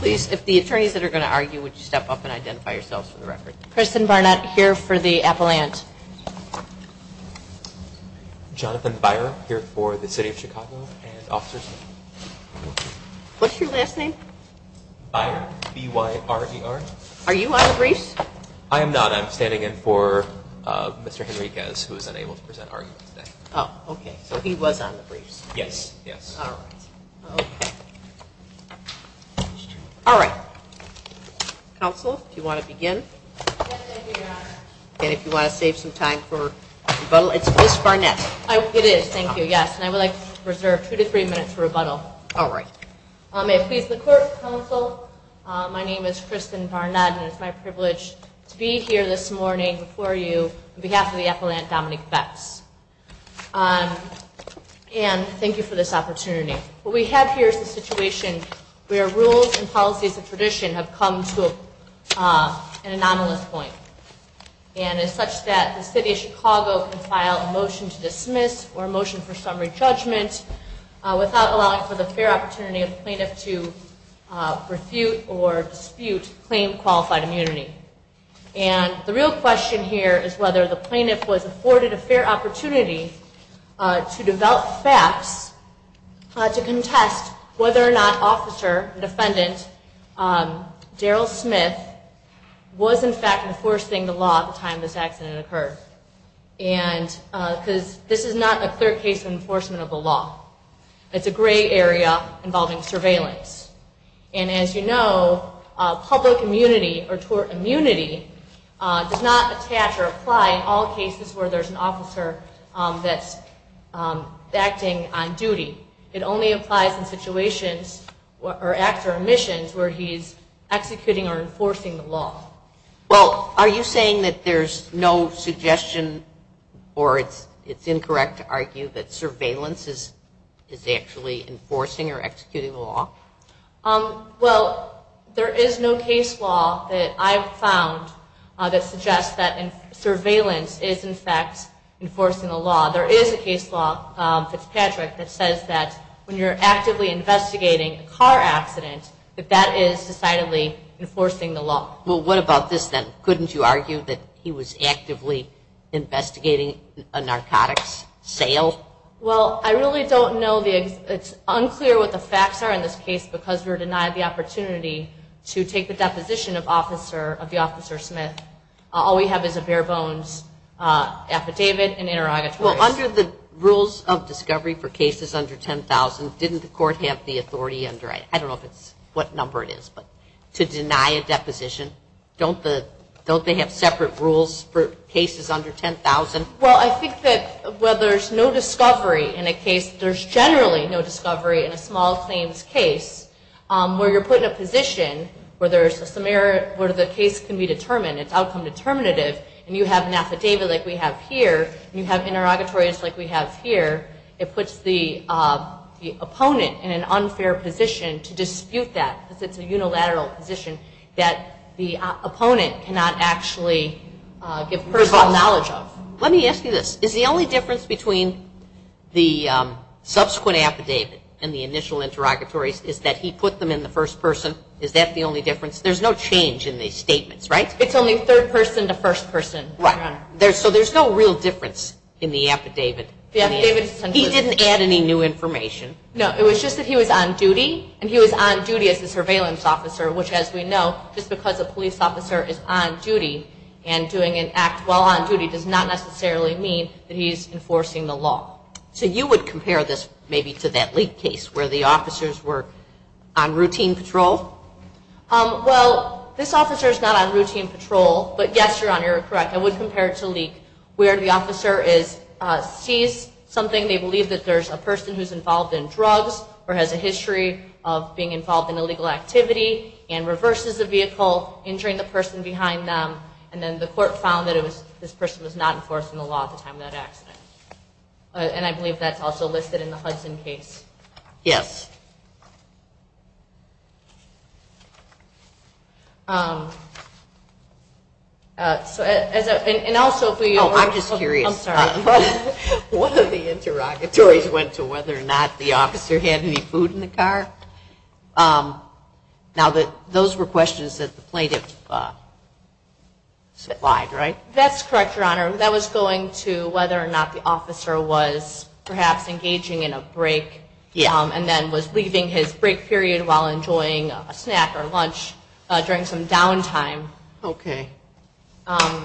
Please, if the attorneys that are going to argue, would you step up and identify yourselves for the record. Kristen Barnett, here for the appellant. Jonathan Beyer, here for the City of Chicago. What's your last name? Beyer, B-Y-R-E-R. Are you on the briefs? I am not. I'm standing in for Mr. Henriquez, who is unable to present arguments today. Oh, okay. So he was on the briefs. Yes. All right. Counsel, do you want to begin? Yes, thank you, Your Honor. And if you want to save some time for rebuttal, it's Ms. Barnett. It is, thank you, yes. And I would like to reserve two to three minutes for rebuttal. All right. May it please the Court, Counsel, my name is Kristen Barnett, and it's my privilege to be here this morning before you on behalf of the appellant, Dominique Betts. And thank you for this opportunity. What we have here is a situation where rules and policies of tradition have come to an anomalous point. And it's such that the City of Chicago can file a motion to dismiss or a motion for summary judgment without allowing for the fair opportunity of the plaintiff to refute or dispute claim qualified immunity. And the real question here is whether the plaintiff was afforded a fair opportunity to develop facts to contest whether or not officer, defendant, Daryl Smith, was in fact enforcing the law at the time this accident occurred. And because this is not a clear case of enforcement of the law. It's a gray area involving surveillance. And as you know, public immunity or tort immunity does not attach or apply in all cases where there's an officer that's acting on duty. It only applies in situations or acts or missions where he's executing or enforcing the law. Well, are you saying that there's no suggestion or it's incorrect to argue that surveillance is actually enforcing or executing the law? Well, there is no case law that I've found that suggests that surveillance is in fact enforcing the law. There is a case law, Fitzpatrick, that says that when you're actively investigating a car accident, that that is decidedly enforcing the law. Well, what about this then? Couldn't you argue that he was actively investigating a narcotics sale? Well, I really don't know. It's unclear what the facts are in this case because we're denied the opportunity to take the deposition of the officer Smith. All we have is a bare bones affidavit and interrogatories. Well, under the rules of discovery for cases under 10,000, didn't the court have the authority under it? I don't know what number it is, but to deny a deposition? Don't they have separate rules for cases under 10,000? Well, I think that where there's no discovery in a case, there's generally no discovery in a small claims case, where you're put in a position where the case can be determined, it's outcome determinative, and you have an affidavit like we have here and you have interrogatories like we have here, it puts the opponent in an unfair position to dispute that because it's a unilateral position that the opponent cannot actually give personal knowledge of. Let me ask you this. Is the only difference between the subsequent affidavit and the initial interrogatories is that he put them in the first person? Is that the only difference? There's no change in the statements, right? It's only third person to first person, Your Honor. Right. So there's no real difference in the affidavit. He didn't add any new information. No, it was just that he was on duty, and he was on duty as a surveillance officer, which as we know, just because a police officer is on duty and doing an act while on duty does not necessarily mean that he's enforcing the law. So you would compare this maybe to that leak case where the officers were on routine patrol? Well, this officer is not on routine patrol, but yes, Your Honor, you're correct. I would compare it to leak where the officer sees something, they believe that there's a person who's involved in drugs or has a history of being involved in illegal activity and reverses the vehicle, injuring the person behind them, and then the court found that this person was not enforcing the law at the time of that accident. And I believe that's also listed in the Hudson case. Yes. And also for you, Your Honor. Oh, I'm just curious. I'm sorry. One of the interrogatories went to whether or not the officer had any food in the car. Now, those were questions that the plaintiff supplied, right? That's correct, Your Honor. That was going to whether or not the officer was perhaps engaging in a break and then was not engaging in a break. He was leaving his break period while enjoying a snack or lunch during some downtime. Okay.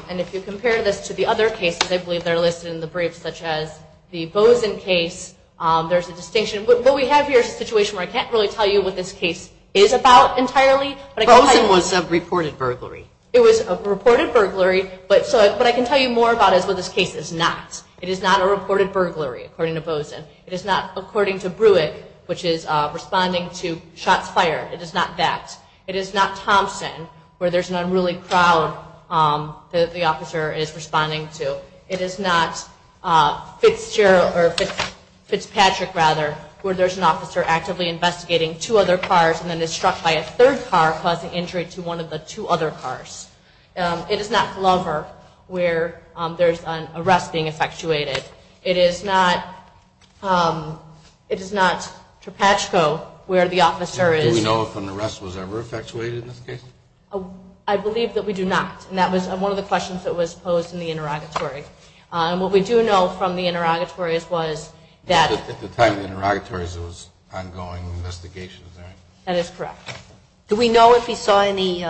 And if you compare this to the other cases, I believe they're listed in the briefs, such as the Bozen case. There's a distinction. What we have here is a situation where I can't really tell you what this case is about entirely. Bozen was a reported burglary. It was a reported burglary, but what I can tell you more about is what this case is not. It is not a reported burglary, according to Bozen. It is not, according to Brewett, which is responding to shots fired. It is not that. It is not Thompson, where there's an unruly crowd that the officer is responding to. It is not Fitzpatrick, where there's an officer actively investigating two other cars and then is struck by a third car, causing injury to one of the two other cars. It is not Glover, where there's an arrest being effectuated. It is not Tropachco, where the officer is. Do we know if an arrest was ever effectuated in this case? I believe that we do not, and that was one of the questions that was posed in the interrogatory. What we do know from the interrogatories was that at the time of the interrogatories, there was ongoing investigation. That is correct. Do we know if he saw any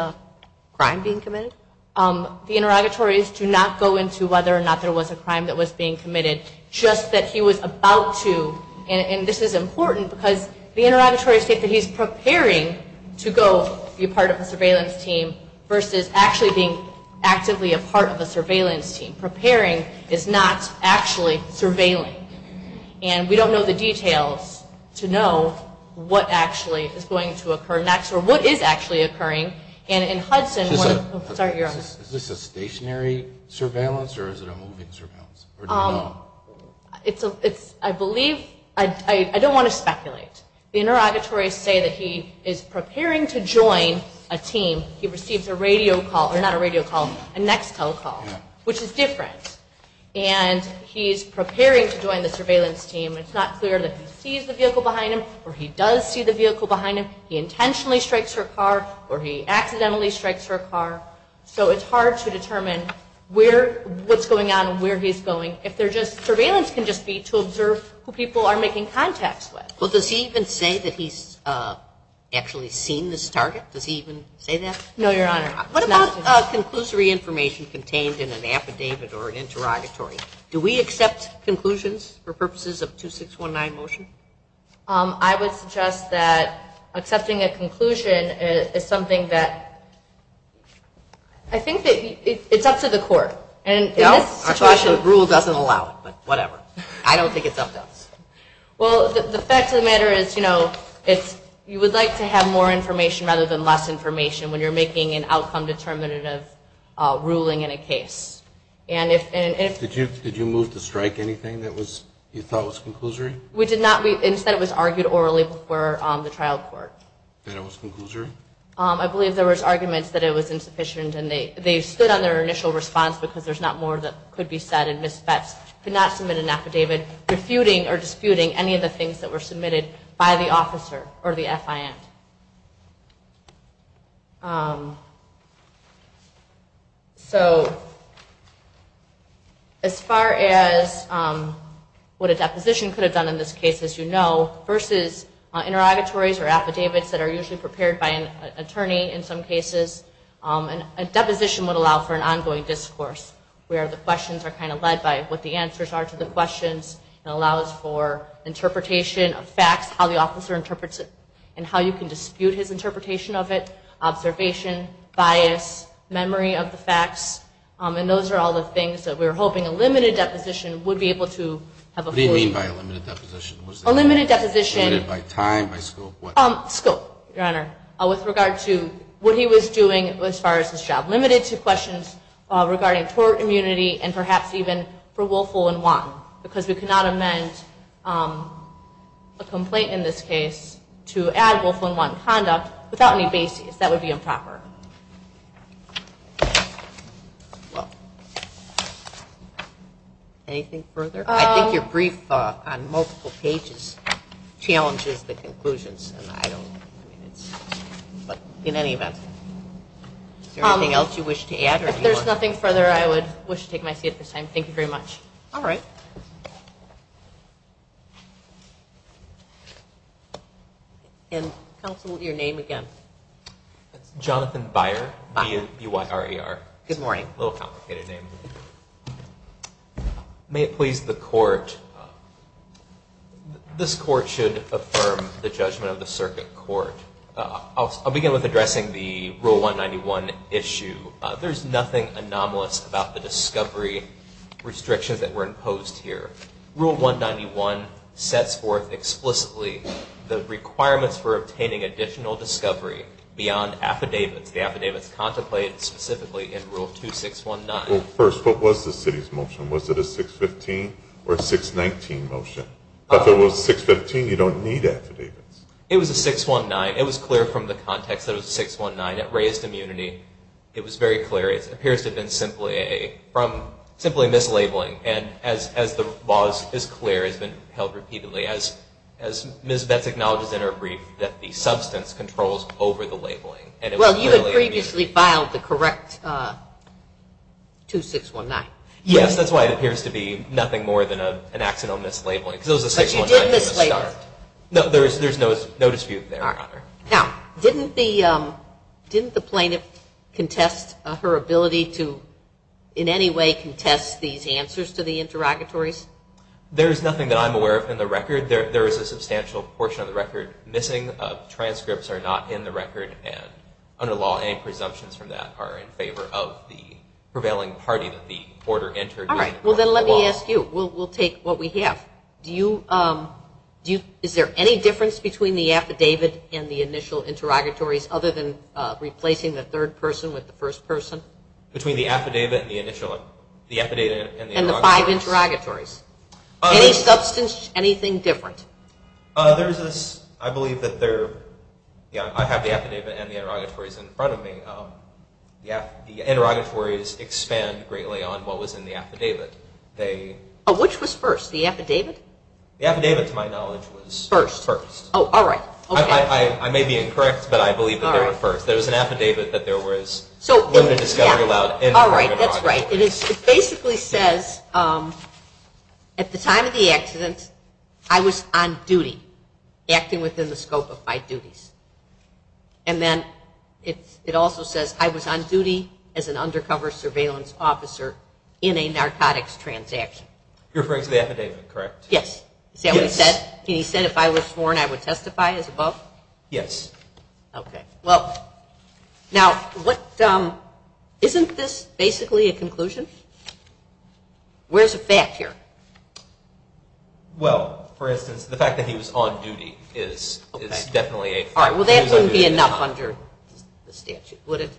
crime being committed? The interrogatories do not go into whether or not there was a crime that was being committed, just that he was about to. And this is important because the interrogatories state that he's preparing to go be part of a surveillance team versus actually being actively a part of a surveillance team. Preparing is not actually surveilling. And we don't know the details to know what actually is going to occur next or what is actually occurring. Is this a stationary surveillance or is it a moving surveillance? I don't want to speculate. The interrogatories say that he is preparing to join a team. He receives a radio call, or not a radio call, a Nextel call, which is different. And he's preparing to join the surveillance team. It's not clear that he sees the vehicle behind him or he does see the vehicle behind him. He intentionally strikes her car or he accidentally strikes her car. So it's hard to determine what's going on and where he's going. Surveillance can just be to observe who people are making contacts with. Well, does he even say that he's actually seen this target? Does he even say that? No, Your Honor. What about conclusory information contained in an affidavit or an interrogatory? Do we accept conclusions for purposes of 2619 motion? I would suggest that accepting a conclusion is something that I think it's up to the court. No, our statute of rules doesn't allow it, but whatever. I don't think it's up to us. Well, the fact of the matter is you would like to have more information rather than less information when you're making an outcome determinative ruling in a case. Did you move to strike anything that you thought was conclusory? We did not. Instead, it was argued orally before the trial court. That it was conclusory? I believe there was arguments that it was insufficient, and they stood on their initial response because there's not more that could be said, and Ms. Betz could not submit an affidavit refuting or disputing any of the things that were submitted by the officer or the FIN. So, as far as what a deposition could have done in this case, as you know, versus interrogatories or affidavits that are usually prepared by an attorney in some cases, a deposition would allow for an ongoing discourse where the questions are kind of led by what the answers are to the questions. It allows for interpretation of facts, how the officer interprets it, and how you can dispute his interpretation of it, observation, bias, memory of the facts, and those are all the things that we were hoping a limited deposition would be able to have a full... What do you mean by a limited deposition? A limited deposition... Limited by time, by scope, what? Scope, Your Honor, with regard to what he was doing as far as his job. Limited to questions regarding tort immunity and perhaps even for Wolfel and Wong because we cannot amend a complaint in this case to add Wolfel and Wong conduct without any bases. That would be improper. Anything further? I think your brief on multiple pages challenges the conclusions, and I don't... But in any event, is there anything else you wish to add? If there's nothing further, I would wish to take my seat at this time. Thank you very much. All right. Counsel, your name again. Jonathan Byer, B-Y-R-E-R. Good morning. A little complicated name. May it please the Court, this Court should affirm the judgment of the Circuit Court. I'll begin with addressing the Rule 191 issue. There's nothing anomalous about the discovery restrictions that were imposed here. Rule 191 sets forth explicitly the requirements for obtaining additional discovery beyond affidavits. The affidavits contemplated specifically in Rule 2619. Well, first, what was the City's motion? Was it a 615 or a 619 motion? If it was 615, you don't need affidavits. It was a 619. It was clear from the context that it was a 619. It raised immunity. It was very clear. It appears to have been simply mislabeling. And as the law is clear, it's been held repeatedly. Ms. Betz acknowledges in her brief that the substance controls over the labeling. Well, you had previously filed the correct 2619. Yes, that's why it appears to be nothing more than an accidental mislabeling. But you did mislabel it. No, there's no dispute there, Your Honor. Now, didn't the plaintiff contest her ability to, in any way, contest these answers to the interrogatories? There is nothing that I'm aware of in the record. There is a substantial portion of the record missing. Transcripts are not in the record, and under law, any presumptions from that are in favor of the prevailing party that the order entered. All right. Well, then let me ask you. We'll take what we have. Is there any difference between the affidavit and the initial interrogatories, other than replacing the third person with the first person? Between the affidavit and the initial, the affidavit and the interrogatories. And the five interrogatories. Any substance, anything different? There's this, I believe that there, yeah, I have the affidavit and the interrogatories in front of me. The interrogatories expand greatly on what was in the affidavit. Oh, which was first? The affidavit? The affidavit, to my knowledge, was first. First. Oh, all right. I may be incorrect, but I believe that they were first. There was an affidavit that there was limited discovery allowed in the interrogatories. All right, that's right. It basically says, at the time of the accident, I was on duty, acting within the scope of my duties. And then it also says I was on duty as an undercover surveillance officer in a narcotics transaction. You're referring to the affidavit, correct? Yes. See what he said? He said if I was sworn, I would testify as above? Yes. Okay. Well, now, isn't this basically a conclusion? Where's the fact here? Well, for instance, the fact that he was on duty is definitely a fact. All right, well, that wouldn't be enough under the statute, would it?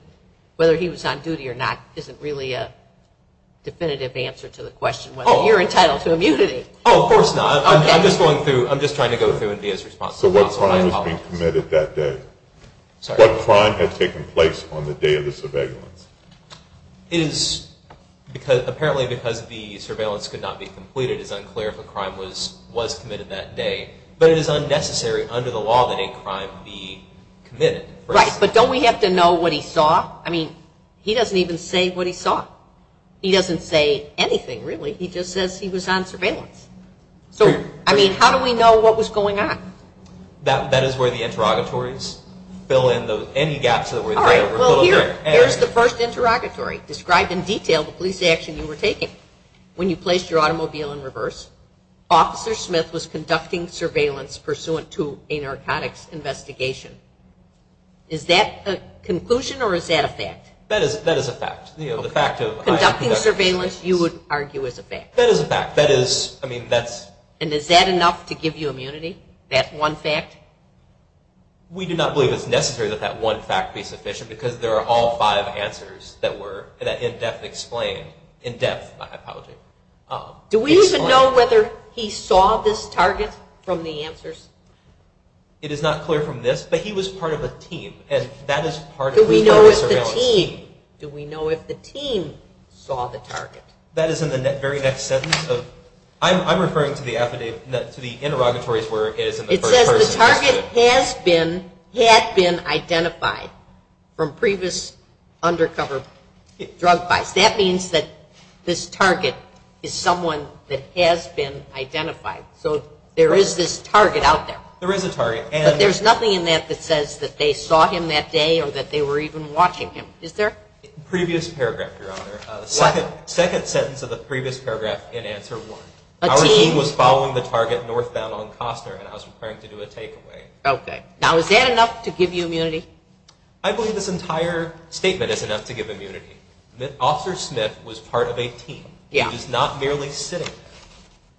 Definitive answer to the question whether you're entitled to immunity. Oh, of course not. I'm just trying to go through and be as responsible as possible. So what crime was being committed that day? Sorry. What crime had taken place on the day of the surveillance? Apparently because the surveillance could not be completed, it's unclear if a crime was committed that day. But it is unnecessary under the law that a crime be committed. Right, but don't we have to know what he saw? I mean, he doesn't even say what he saw. He doesn't say anything, really. He just says he was on surveillance. So, I mean, how do we know what was going on? That is where the interrogatories fill in any gaps that were filled. All right, well, here's the first interrogatory, described in detail the police action you were taking. When you placed your automobile in reverse, Officer Smith was conducting surveillance pursuant to a narcotics investigation. Is that a conclusion or is that a fact? That is a fact. Conducting surveillance, you would argue, is a fact. That is a fact. And is that enough to give you immunity, that one fact? We do not believe it's necessary that that one fact be sufficient because there are all five answers that were in-depth explained. In-depth, my apology. Do we even know whether he saw this target from the answers? It is not clear from this, but he was part of a team. Do we know if the team saw the target? That is in the very next sentence. I'm referring to the interrogatories where it is in the first person. It says the target had been identified from previous undercover drug buys. That means that this target is someone that has been identified. So there is this target out there. There is a target. But there's nothing in that that says that they saw him that day or that they were even watching him. Is there? Previous paragraph, Your Honor. What? Second sentence of the previous paragraph in answer one. A team? Our team was following the target northbound on Costner and I was requiring to do a takeaway. Okay. Now, is that enough to give you immunity? I believe this entire statement is enough to give immunity. Officer Smith was part of a team. He was not merely sitting there.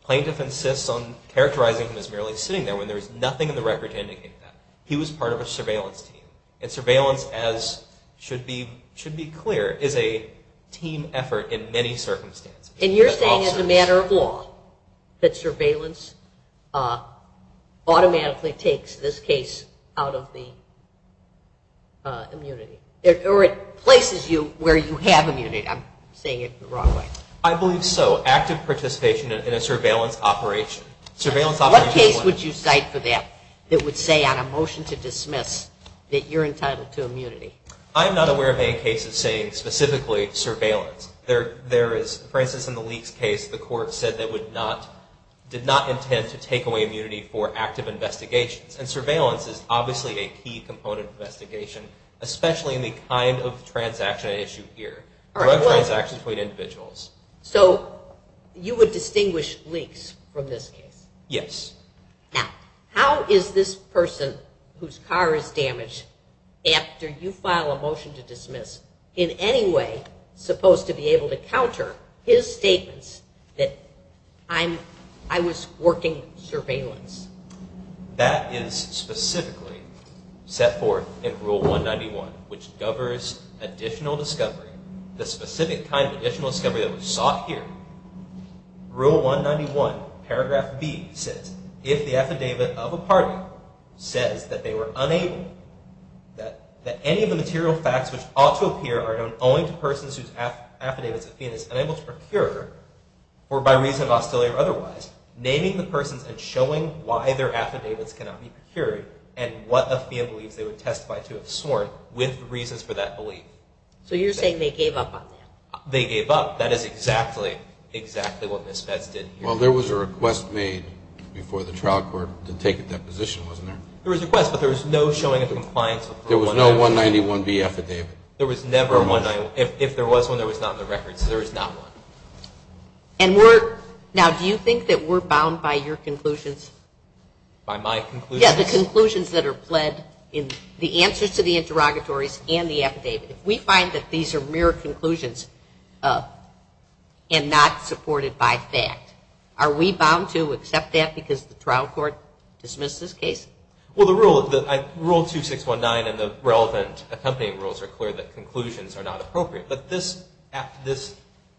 Plaintiff insists on characterizing him as merely sitting there when there is nothing in the record to indicate that. He was part of a surveillance team. And surveillance, as should be clear, is a team effort in many circumstances. And you're saying as a matter of law that surveillance automatically takes this case out of the immunity? Or it places you where you have immunity. I'm saying it the wrong way. I believe so. Active participation in a surveillance operation. What case would you cite for that that would say on a motion to dismiss that you're entitled to immunity? I'm not aware of any cases saying specifically surveillance. There is, for instance, in the Leakes case, the court said they did not intend to take away immunity for active investigations. And surveillance is obviously a key component of investigation, especially in the kind of transaction I issue here, drug transactions between individuals. So you would distinguish Leakes from this case? Yes. Now, how is this person whose car is damaged after you file a motion to dismiss in any way supposed to be able to counter his statements that I was working surveillance? That is specifically set forth in Rule 191, which governs additional discovery, the specific kind of additional discovery that was sought here. Rule 191, paragraph B, says, if the affidavit of a party says that they were unable, that any of the material facts which ought to appear are known only to persons whose affidavits a fiend is unable to procure, or by reason of hostility or otherwise, naming the persons and showing why their affidavits cannot be procured and what a fiend believes they would testify to have sworn with reasons for that belief. So you're saying they gave up on that? They gave up. That is exactly, exactly what Ms. Vest did here. Well, there was a request made before the trial court to take a deposition, wasn't there? There was a request, but there was no showing of compliance. There was no 191B affidavit? There was never one. If there was one, there was not in the records. There is not one. Now, do you think that we're bound by your conclusions? By my conclusions? Yes, the conclusions that are pled in the answers to the interrogatories and the affidavit. If we find that these are mere conclusions and not supported by fact, are we bound to accept that because the trial court dismissed this case? Well, Rule 2619 and the relevant accompanying rules are clear that conclusions are not appropriate. But this,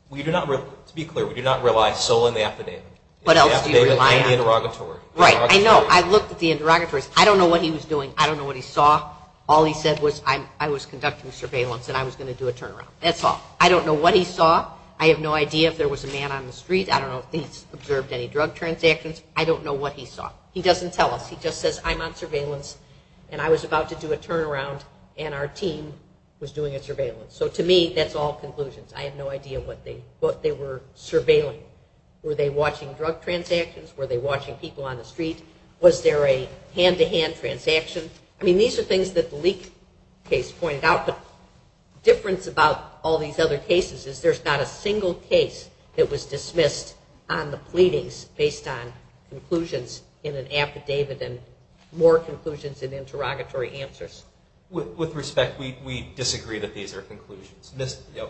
we do not, to be clear, we do not rely solely on the affidavit. What else do you rely on? The affidavit and the interrogatory. Right, I know. I looked at the interrogatories. I don't know what he was doing. I don't know what he saw. All he said was, I was conducting surveillance and I was going to do a turnaround. That's all. I don't know what he saw. I have no idea if there was a man on the street. I don't know if he observed any drug transactions. I don't know what he saw. He doesn't tell us. He just says, I'm on surveillance and I was about to do a turnaround and our team was doing a surveillance. So to me, that's all conclusions. I have no idea what they were surveilling. Were they watching drug transactions? Were they watching people on the street? Was there a hand-to-hand transaction? I mean, these are things that the Leake case pointed out. The difference about all these other cases is there's not a single case that was dismissed on the pleadings based on conclusions in an affidavit and more conclusions in interrogatory answers. With respect, we disagree that these are conclusions.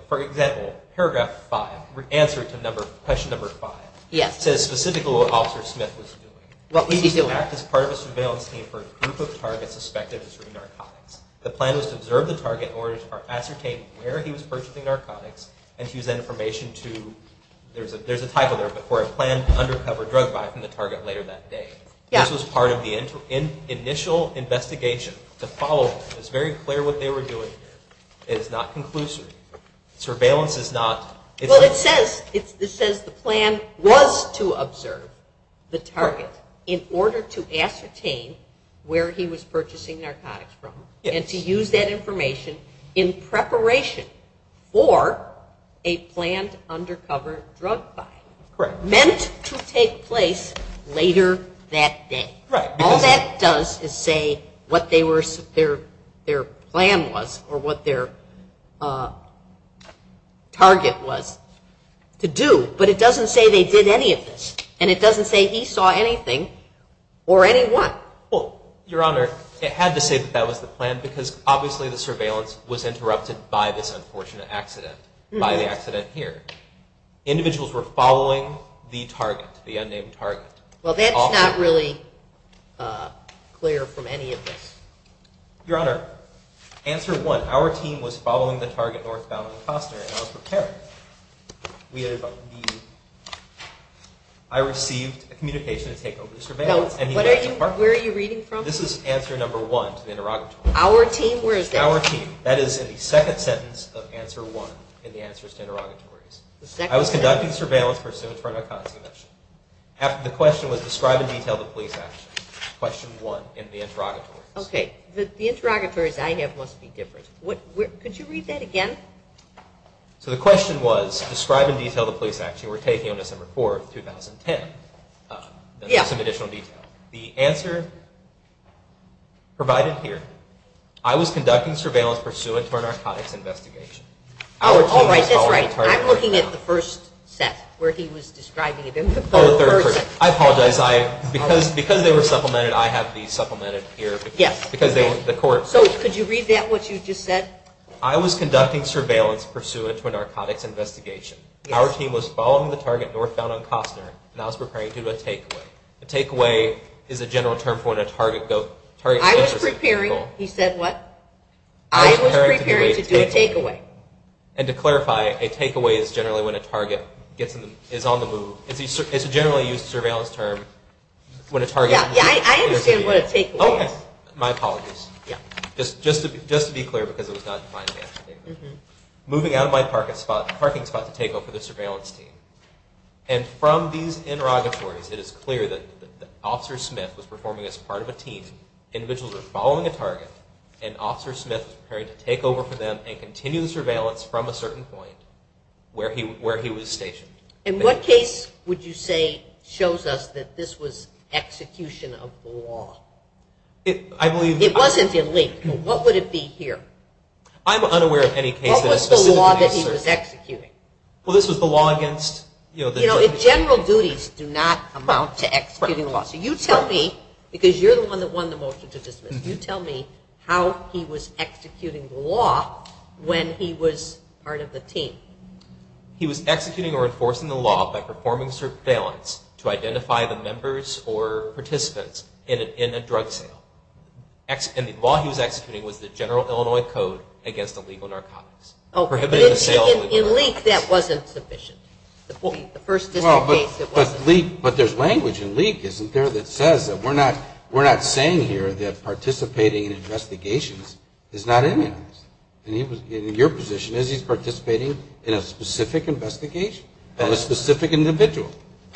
For example, paragraph 5, answer to question number 5, says specifically what Officer Smith was doing. He was part of a surveillance team for a group of targets suspected of distributing narcotics. The plan was to observe the target in order to ascertain where he was purchasing narcotics and to use that information to, there's a title there, for a planned undercover drug buy from the target later that day. This was part of the initial investigation to follow. It's very clear what they were doing here. It is not conclusive. Surveillance is not. Well, it says the plan was to observe the target in order to ascertain where he was purchasing narcotics from and to use that information in preparation for a planned undercover drug buy. Correct. Meant to take place later that day. Right. All that does is say what their plan was or what their target was to do. But it doesn't say they did any of this. And it doesn't say he saw anything or anyone. Well, Your Honor, it had to say that that was the plan because obviously the surveillance was interrupted by this unfortunate accident, by the accident here. Individuals were following the target, the unnamed target. Well, that's not really clear from any of this. Your Honor, answer one. Our team was following the target northbound of the Costner and I was preparing. I received a communication to take over the surveillance. Where are you reading from? This is answer number one to the interrogatory. Our team? Where is that? Our team. That is in the second sentence of answer one in the answers to interrogatories. I was conducting surveillance pursuit for a narcotics invention. The question was describe in detail the police action. Question one in the interrogatories. Okay. The interrogatories I have must be different. Could you read that again? So the question was describe in detail the police action we're taking on December 4th, 2010. Some additional detail. The answer provided here, I was conducting surveillance pursuant to a narcotics investigation. All right. That's right. I'm looking at the first set where he was describing it. I apologize. Because they were supplemented, I have these supplemented here. Yes. So could you read that, what you just said? I was conducting surveillance pursuant to a narcotics investigation. Our team was following the target northbound on Costner, and I was preparing to do a takeaway. A takeaway is a general term for when a target goes. I was preparing. He said what? I was preparing to do a takeaway. And to clarify, a takeaway is generally when a target is on the move. It's a generally used surveillance term when a target is on the move. I understand what a takeaway is. Okay. My apologies. Just to be clear because it was not defined in the action statement. Moving out of my parking spot to take over the surveillance team. And from these interrogatories, it is clear that Officer Smith was performing as part of a team. Individuals were following a target, and Officer Smith was preparing to take over for them and continue the surveillance from a certain point where he was stationed. And what case would you say shows us that this was execution of the law? It wasn't a leak. What would it be here? I'm unaware of any cases. What was the law that he was executing? Well, this was the law against, you know, the general duties. You know, general duties do not amount to executing the law. So you tell me, because you're the one that won the motion to dismiss, you tell me how he was executing the law when he was part of the team. He was executing or enforcing the law by performing surveillance to identify the members or participants in a drug sale. And the law he was executing was the General Illinois Code against illegal narcotics. In leak, that wasn't sufficient. Well, but there's language in leak, isn't there, that says that we're not saying here that participating in investigations is not imminent. In your position, is he participating in a specific investigation on a specific individual?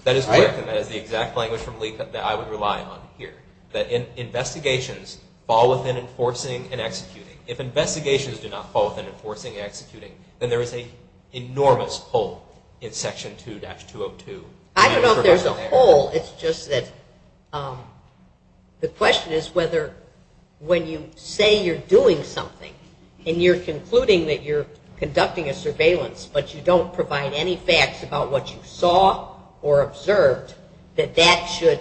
That is correct, and that is the exact language from leak that I would rely on here, that investigations fall within enforcing and executing. If investigations do not fall within enforcing and executing, then there is an enormous hole in Section 2-202. I don't know if there's a hole. It's just that the question is whether when you say you're doing something and you're concluding that you're conducting a surveillance but you don't provide any facts about what you saw or observed, that that should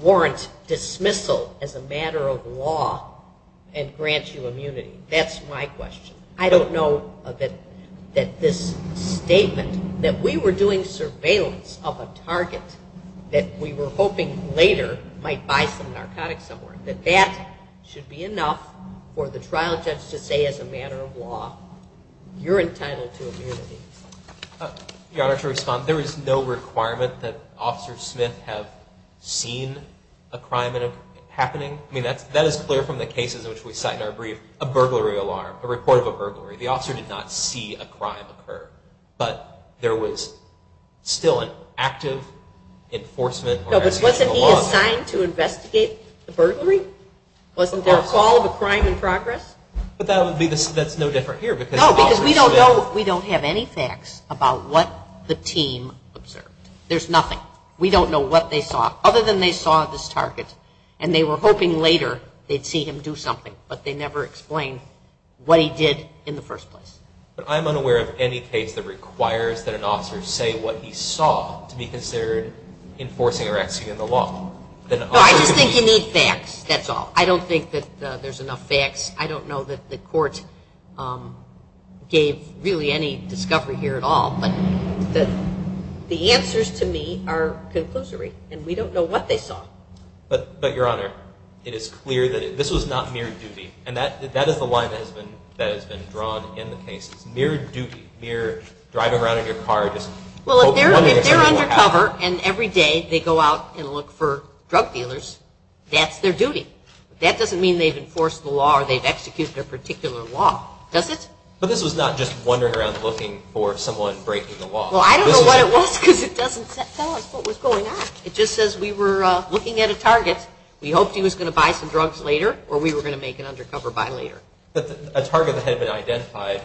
warrant dismissal as a matter of law and grant you immunity. That's my question. I don't know that this statement that we were doing surveillance of a target that we were hoping later might buy some narcotics somewhere, that that should be enough for the trial judge to say as a matter of law, you're entitled to immunity. Your Honor, to respond, there is no requirement that Officers Smith have seen a crime happening. I mean, that is clear from the cases in which we cite in our brief, a burglary alarm, a report of a burglary. The officer did not see a crime occur, but there was still an active enforcement or execution of law. No, but wasn't he assigned to investigate the burglary? Wasn't there a fall of a crime in progress? But that's no different here because the officers... No, because we don't have any facts about what the team observed. There's nothing. We don't know what they saw other than they saw this target and they were hoping later they'd see him do something, but they never explained what he did in the first place. But I'm unaware of any case that requires that an officer say what he saw to be considered enforcing or executing the law. No, I just think you need facts, that's all. I don't think that there's enough facts. I don't know that the court gave really any discovery here at all, but the answers to me are conclusory, and we don't know what they saw. But, Your Honor, it is clear that this was not mere duty, and that is the line that has been drawn in the case. It's mere duty, mere driving around in your car just... Well, if they're undercover and every day they go out and look for drug dealers, that's their duty. That doesn't mean they've enforced the law or they've executed a particular law, does it? But this was not just wandering around looking for someone breaking the law. Well, I don't know what it was because it doesn't tell us what was going on. It just says we were looking at a target, we hoped he was going to buy some drugs later or we were going to make an undercover buy later. A target that had been identified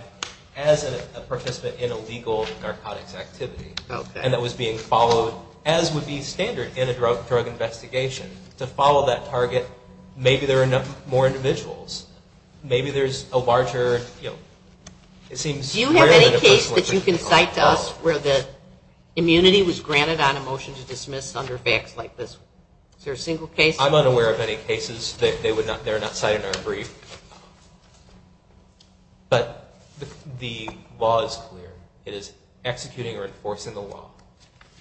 as a participant in a legal narcotics activity and that was being followed, as would be standard in a drug investigation, to follow that target, maybe there are more individuals, maybe there's a larger... Do you have any case that you can cite to us where the immunity was granted on a motion to dismiss under facts like this? Is there a single case? I'm unaware of any cases. They're not cited in our brief. But the law is clear. It is executing or enforcing the law.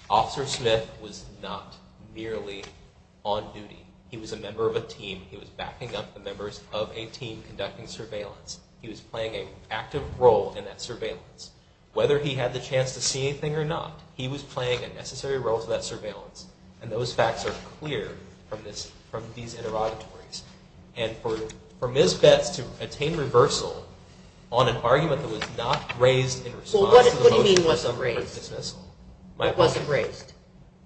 Officer Smith was not merely on duty. He was a member of a team. He was backing up the members of a team conducting surveillance. He was playing an active role in that surveillance. Whether he had the chance to see anything or not, he was playing a necessary role to that surveillance. And those facts are clear from these interrogatories. And for Ms. Betts to attain reversal on an argument that was not raised in response to the motion... Well, what do you mean wasn't raised? What wasn't raised?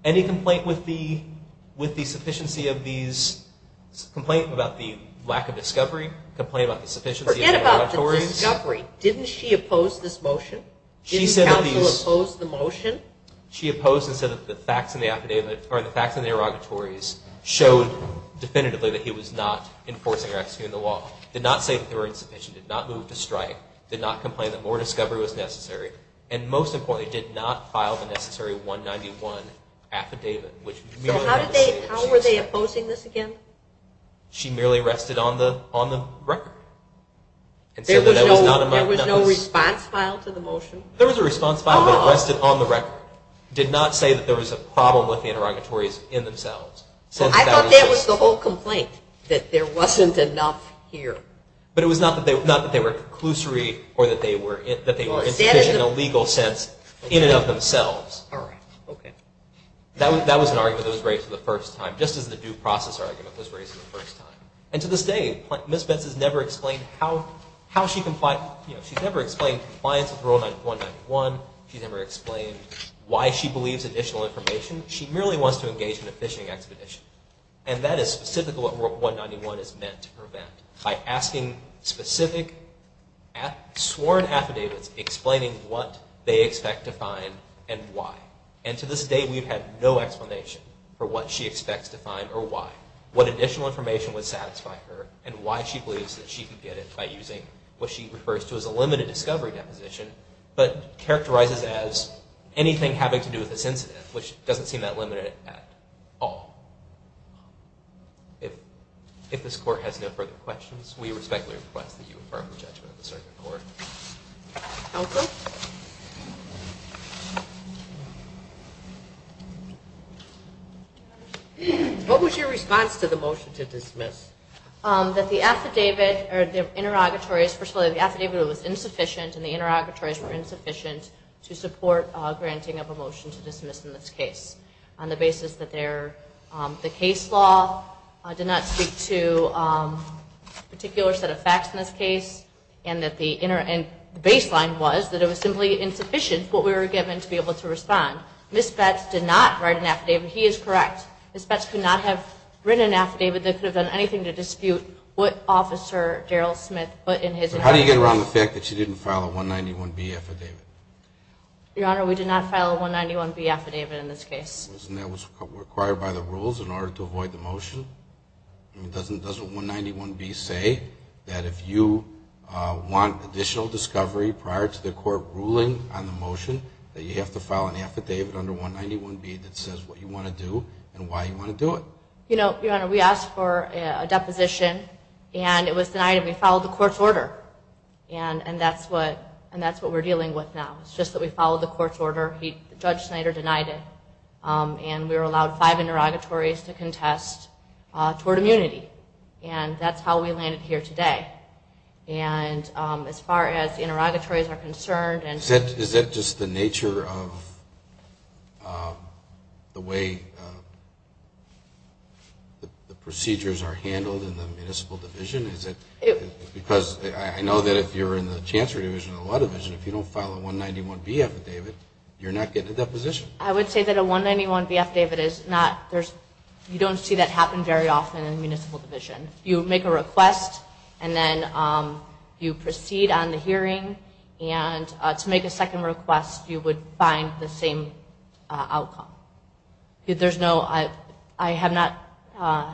Any complaint with the sufficiency of these... Complaint about the lack of discovery? Complaint about the sufficiency of interrogatories? Forget about the discovery. Didn't she oppose this motion? Didn't counsel oppose the motion? She opposed it and said that the facts in the interrogatories showed definitively that he was not enforcing or executing the law. Did not say that they were insufficient. Did not move to strike. Did not complain that more discovery was necessary. And most importantly, did not file the necessary 191 affidavit, which... So how were they opposing this again? She merely rested on the record. There was no response file to the motion? There was a response file, but it rested on the record. Did not say that there was a problem with the interrogatories in themselves. So I thought that was the whole complaint, that there wasn't enough here. But it was not that they were conclusory or that they were insufficient in a legal sense in and of themselves. All right. Okay. That was an argument that was raised for the first time, just as the due process argument was raised for the first time. And to this day, Ms. Betz has never explained how she complied... She's never explained compliance with Rule 191. She's never explained why she believes additional information. She merely wants to engage in a phishing expedition. And that is specifically what Rule 191 is meant to prevent, by asking specific sworn affidavits explaining what they expect to find and why. And to this day, we've had no explanation for what she expects to find or why. What additional information would satisfy her, and why she believes that she can get it by using what she refers to as a limited discovery deposition, but characterizes as anything having to do with this incident, which doesn't seem that limited at all. If this Court has no further questions, we respectfully request that you infer from the judgment of the circuit court. Okay. Thank you. What was your response to the motion to dismiss? That the affidavit or the interrogatories... First of all, the affidavit was insufficient, and the interrogatories were insufficient to support granting of a motion to dismiss in this case, on the basis that the case law did not speak to a particular set of facts in this case, and the baseline was that it was simply insufficient for what we were given to be able to respond. Ms. Betz did not write an affidavit. He is correct. Ms. Betz could not have written an affidavit that could have done anything to dispute what Officer Daryl Smith put in his interrogatories. How do you get around the fact that she didn't file a 191B affidavit? Your Honor, we did not file a 191B affidavit in this case. And that was required by the rules in order to avoid the motion? Doesn't 191B say that if you want additional discovery prior to the court ruling on the motion that you have to file an affidavit under 191B that says what you want to do and why you want to do it? Your Honor, we asked for a deposition, and it was denied, and we followed the court's order. And that's what we're dealing with now. It's just that we followed the court's order. Judge Snyder denied it. And we were allowed five interrogatories to contest toward immunity. And that's how we landed here today. And as far as the interrogatories are concerned and to... Is that just the nature of the way the procedures are handled in the municipal division? Is it because I know that if you're in the chancery division or the law division, if you don't file a 191B affidavit, you're not getting a deposition. I would say that a 191B affidavit is not... You don't see that happen very often in the municipal division. You make a request, and then you proceed on the hearing. And to make a second request, you would find the same outcome. There's no... I have not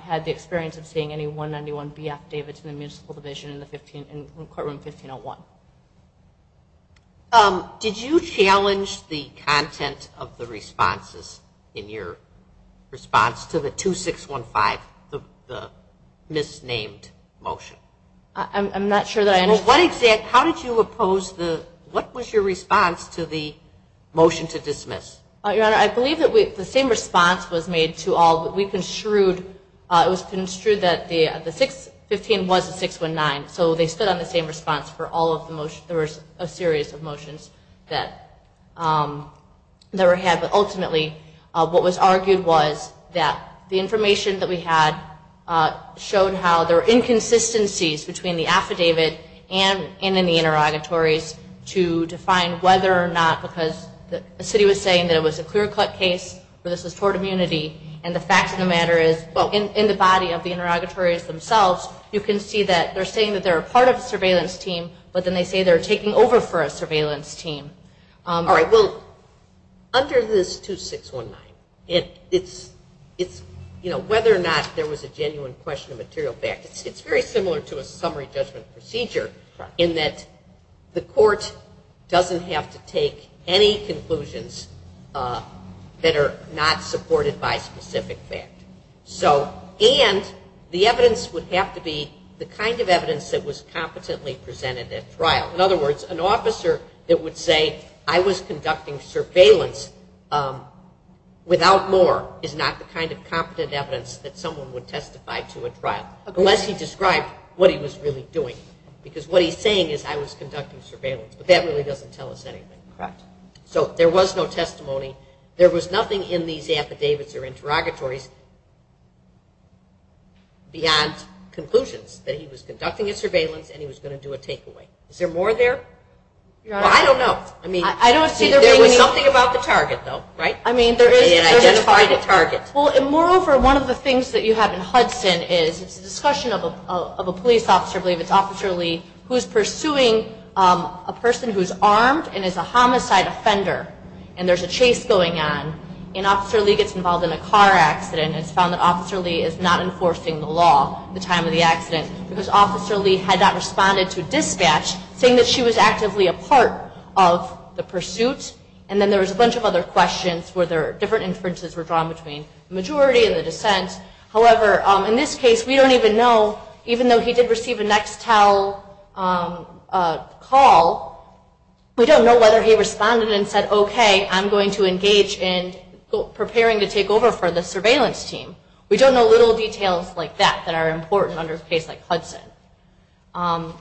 had the experience of seeing any 191B affidavits in the municipal division in courtroom 1501. Did you challenge the content of the responses in your response to the 2615, the misnamed motion? I'm not sure that I... What exact... How did you oppose the... What was your response to the motion to dismiss? Your Honor, I believe that the same response was made to all that we construed. It was construed that the 615 was a 619. So they stood on the same response for all of the motions. There was a series of motions that were had. But ultimately, what was argued was that the information that we had showed how there were inconsistencies between the affidavit and in the interrogatories to define whether or not... Because the city was saying that it was a clear-cut case, that this was toward immunity, and the fact of the matter is, in the body of the interrogatories themselves, you can see that they're saying that they're a part of a surveillance team, but then they say they're taking over for a surveillance team. All right. Well, under this 2619, whether or not there was a genuine question of material fact, it's very similar to a summary judgment procedure in that the court doesn't have to take any conclusions that are not supported by specific fact. And the evidence would have to be the kind of evidence that was competently presented at trial. In other words, an officer that would say, I was conducting surveillance without more is not the kind of competent evidence that someone would testify to at trial, unless he described what he was really doing. Because what he's saying is, I was conducting surveillance. But that really doesn't tell us anything. So there was no testimony. There was nothing in these affidavits or interrogatories beyond conclusions that he was conducting a surveillance and he was going to do a takeaway. Is there more there? I don't know. I mean, there was something about the target, though, right? I mean, there is. It identified a target. Well, and moreover, one of the things that you have in Hudson is, it's a discussion of a police officer, I believe it's Officer Lee, who's pursuing a person who's armed and is a homicide offender. And there's a chase going on. And Officer Lee gets involved in a car accident and it's found that Officer Lee is not enforcing the law at the time of the accident because Officer Lee had not responded to dispatch, saying that she was actively a part of the pursuit. And then there was a bunch of other questions where different inferences were drawn between the majority and the dissent. However, in this case, we don't even know, even though he did receive a Nextel call, we don't know whether he responded and said, okay, I'm going to engage in preparing to take over for the surveillance team. We don't know little details like that that are important under a case like Hudson.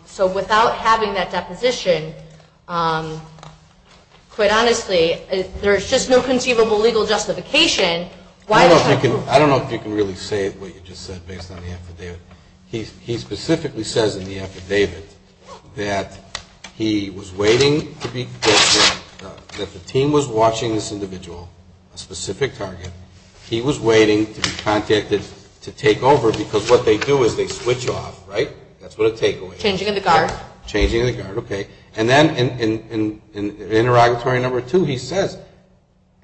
So without having that deposition, quite honestly, there's just no conceivable legal justification. I don't know if you can really say what you just said based on the affidavit. He specifically says in the affidavit that he was waiting to be, that the team was watching this individual, a specific target. He was waiting to be contacted to take over because what they do is they switch off, right? That's what a take away is. Changing of the guard. Changing of the guard, okay. And then in interrogatory number two, he says,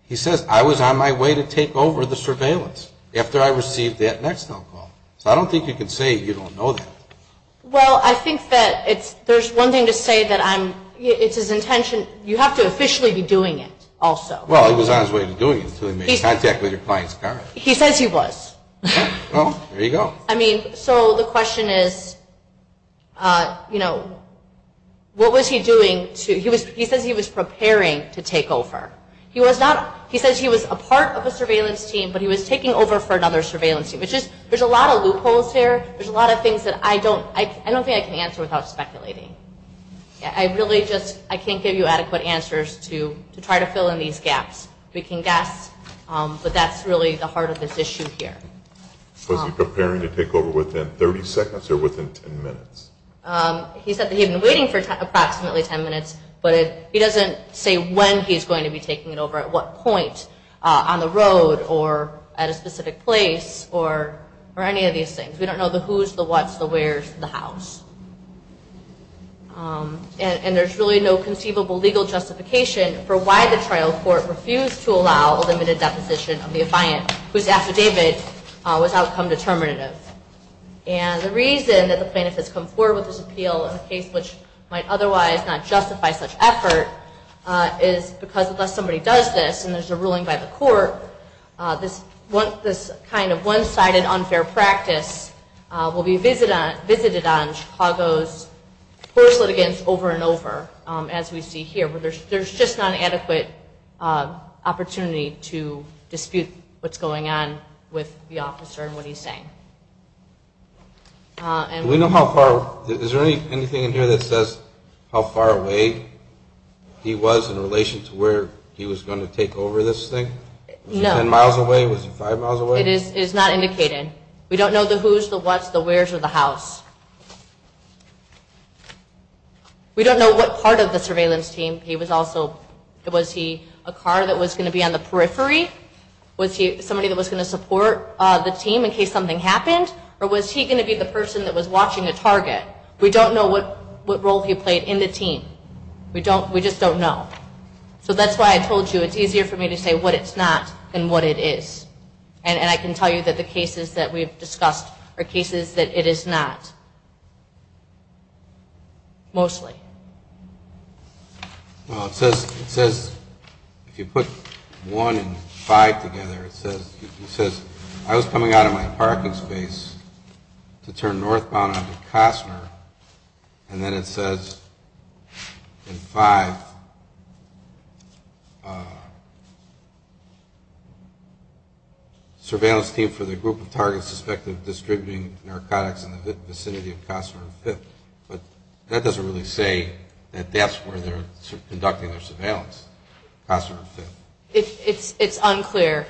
he says, I was on my way to take over the surveillance after I received that Nextel call. So I don't think you can say you don't know that. Well, I think that it's, there's one thing to say that I'm, it's his intention, you have to officially be doing it also. Well, he was on his way to doing it until he made contact with your client's guard. He says he was. Well, there you go. I mean, so the question is, you know, what was he doing to, he says he was preparing to take over. He was not, he says he was a part of a surveillance team, but he was taking over for another surveillance team, which is, there's a lot of loopholes here. There's a lot of things that I don't, I don't think I can answer without speculating. I really just, I can't give you adequate answers to try to fill in these gaps. We can guess, but that's really the heart of this issue here. Was he preparing to take over within 30 seconds or within 10 minutes? He said that he had been waiting for approximately 10 minutes, but he doesn't say when he's going to be taking it over, at what point, on the road, or at a specific place, or any of these things. We don't know the who's, the what's, the where's, the how's. And there's really no conceivable legal justification for why the trial court refused to allow a limited deposition of the defiant whose affidavit was outcome determinative. And the reason that the plaintiff has come forward with this appeal in a case which might otherwise not justify such effort is because unless somebody does this and there's a ruling by the court, this kind of one-sided unfair practice will be visited on Chicago's course litigants over and over, as we see here, where there's just not an adequate opportunity to dispute what's going on with the officer and what he's saying. Do we know how far, is there anything in here that says how far away he was in relation to where he was going to take over this thing? Was he ten miles away? Was he five miles away? It is not indicated. We don't know the who's, the what's, the where's, or the how's. We don't know what part of the surveillance team he was also. Was he a car that was going to be on the periphery? Was he somebody that was going to support the team in case something happened? Or was he going to be the person that was watching a target? We don't know what role he played in the team. We just don't know. So that's why I told you it's easier for me to say what it's not than what it is. And I can tell you that the cases that we've discussed are cases that it is not. Mostly. Well, it says, if you put one and five together, it says, I was coming out of my parking space to turn northbound onto Costner, and then it says in five, surveillance team for the group of targets suspected of distributing narcotics in the vicinity of Costner and Fifth. But that doesn't really say that that's where they're conducting their surveillance, Costner and Fifth. It's unclear.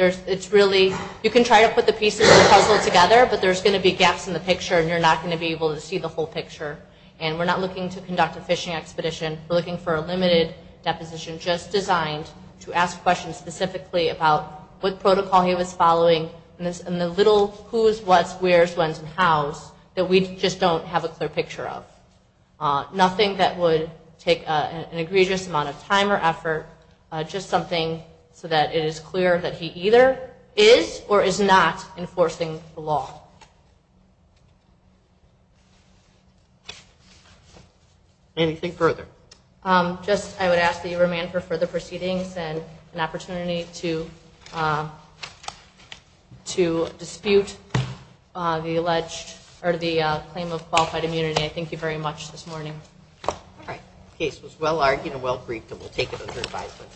It's really, you can try to put the pieces of the puzzle together, but there's going to be gaps in the picture, and you're not going to be able to see the whole picture. And we're not looking to conduct a fishing expedition. We're looking for a limited deposition just designed to ask questions specifically about what protocol he was following, and the little who's, what's, where's, when's, and how's, that we just don't have a clear picture of. Nothing that would take an egregious amount of time or effort, just something so that it is clear that he either is or is not enforcing the law. Anything further? Just, I would ask that you remand for further proceedings and an opportunity to dispute the alleged, or the claim of qualified immunity. I thank you very much this morning. All right. The case was well-argued and well-briefed, and we'll take it under advisement.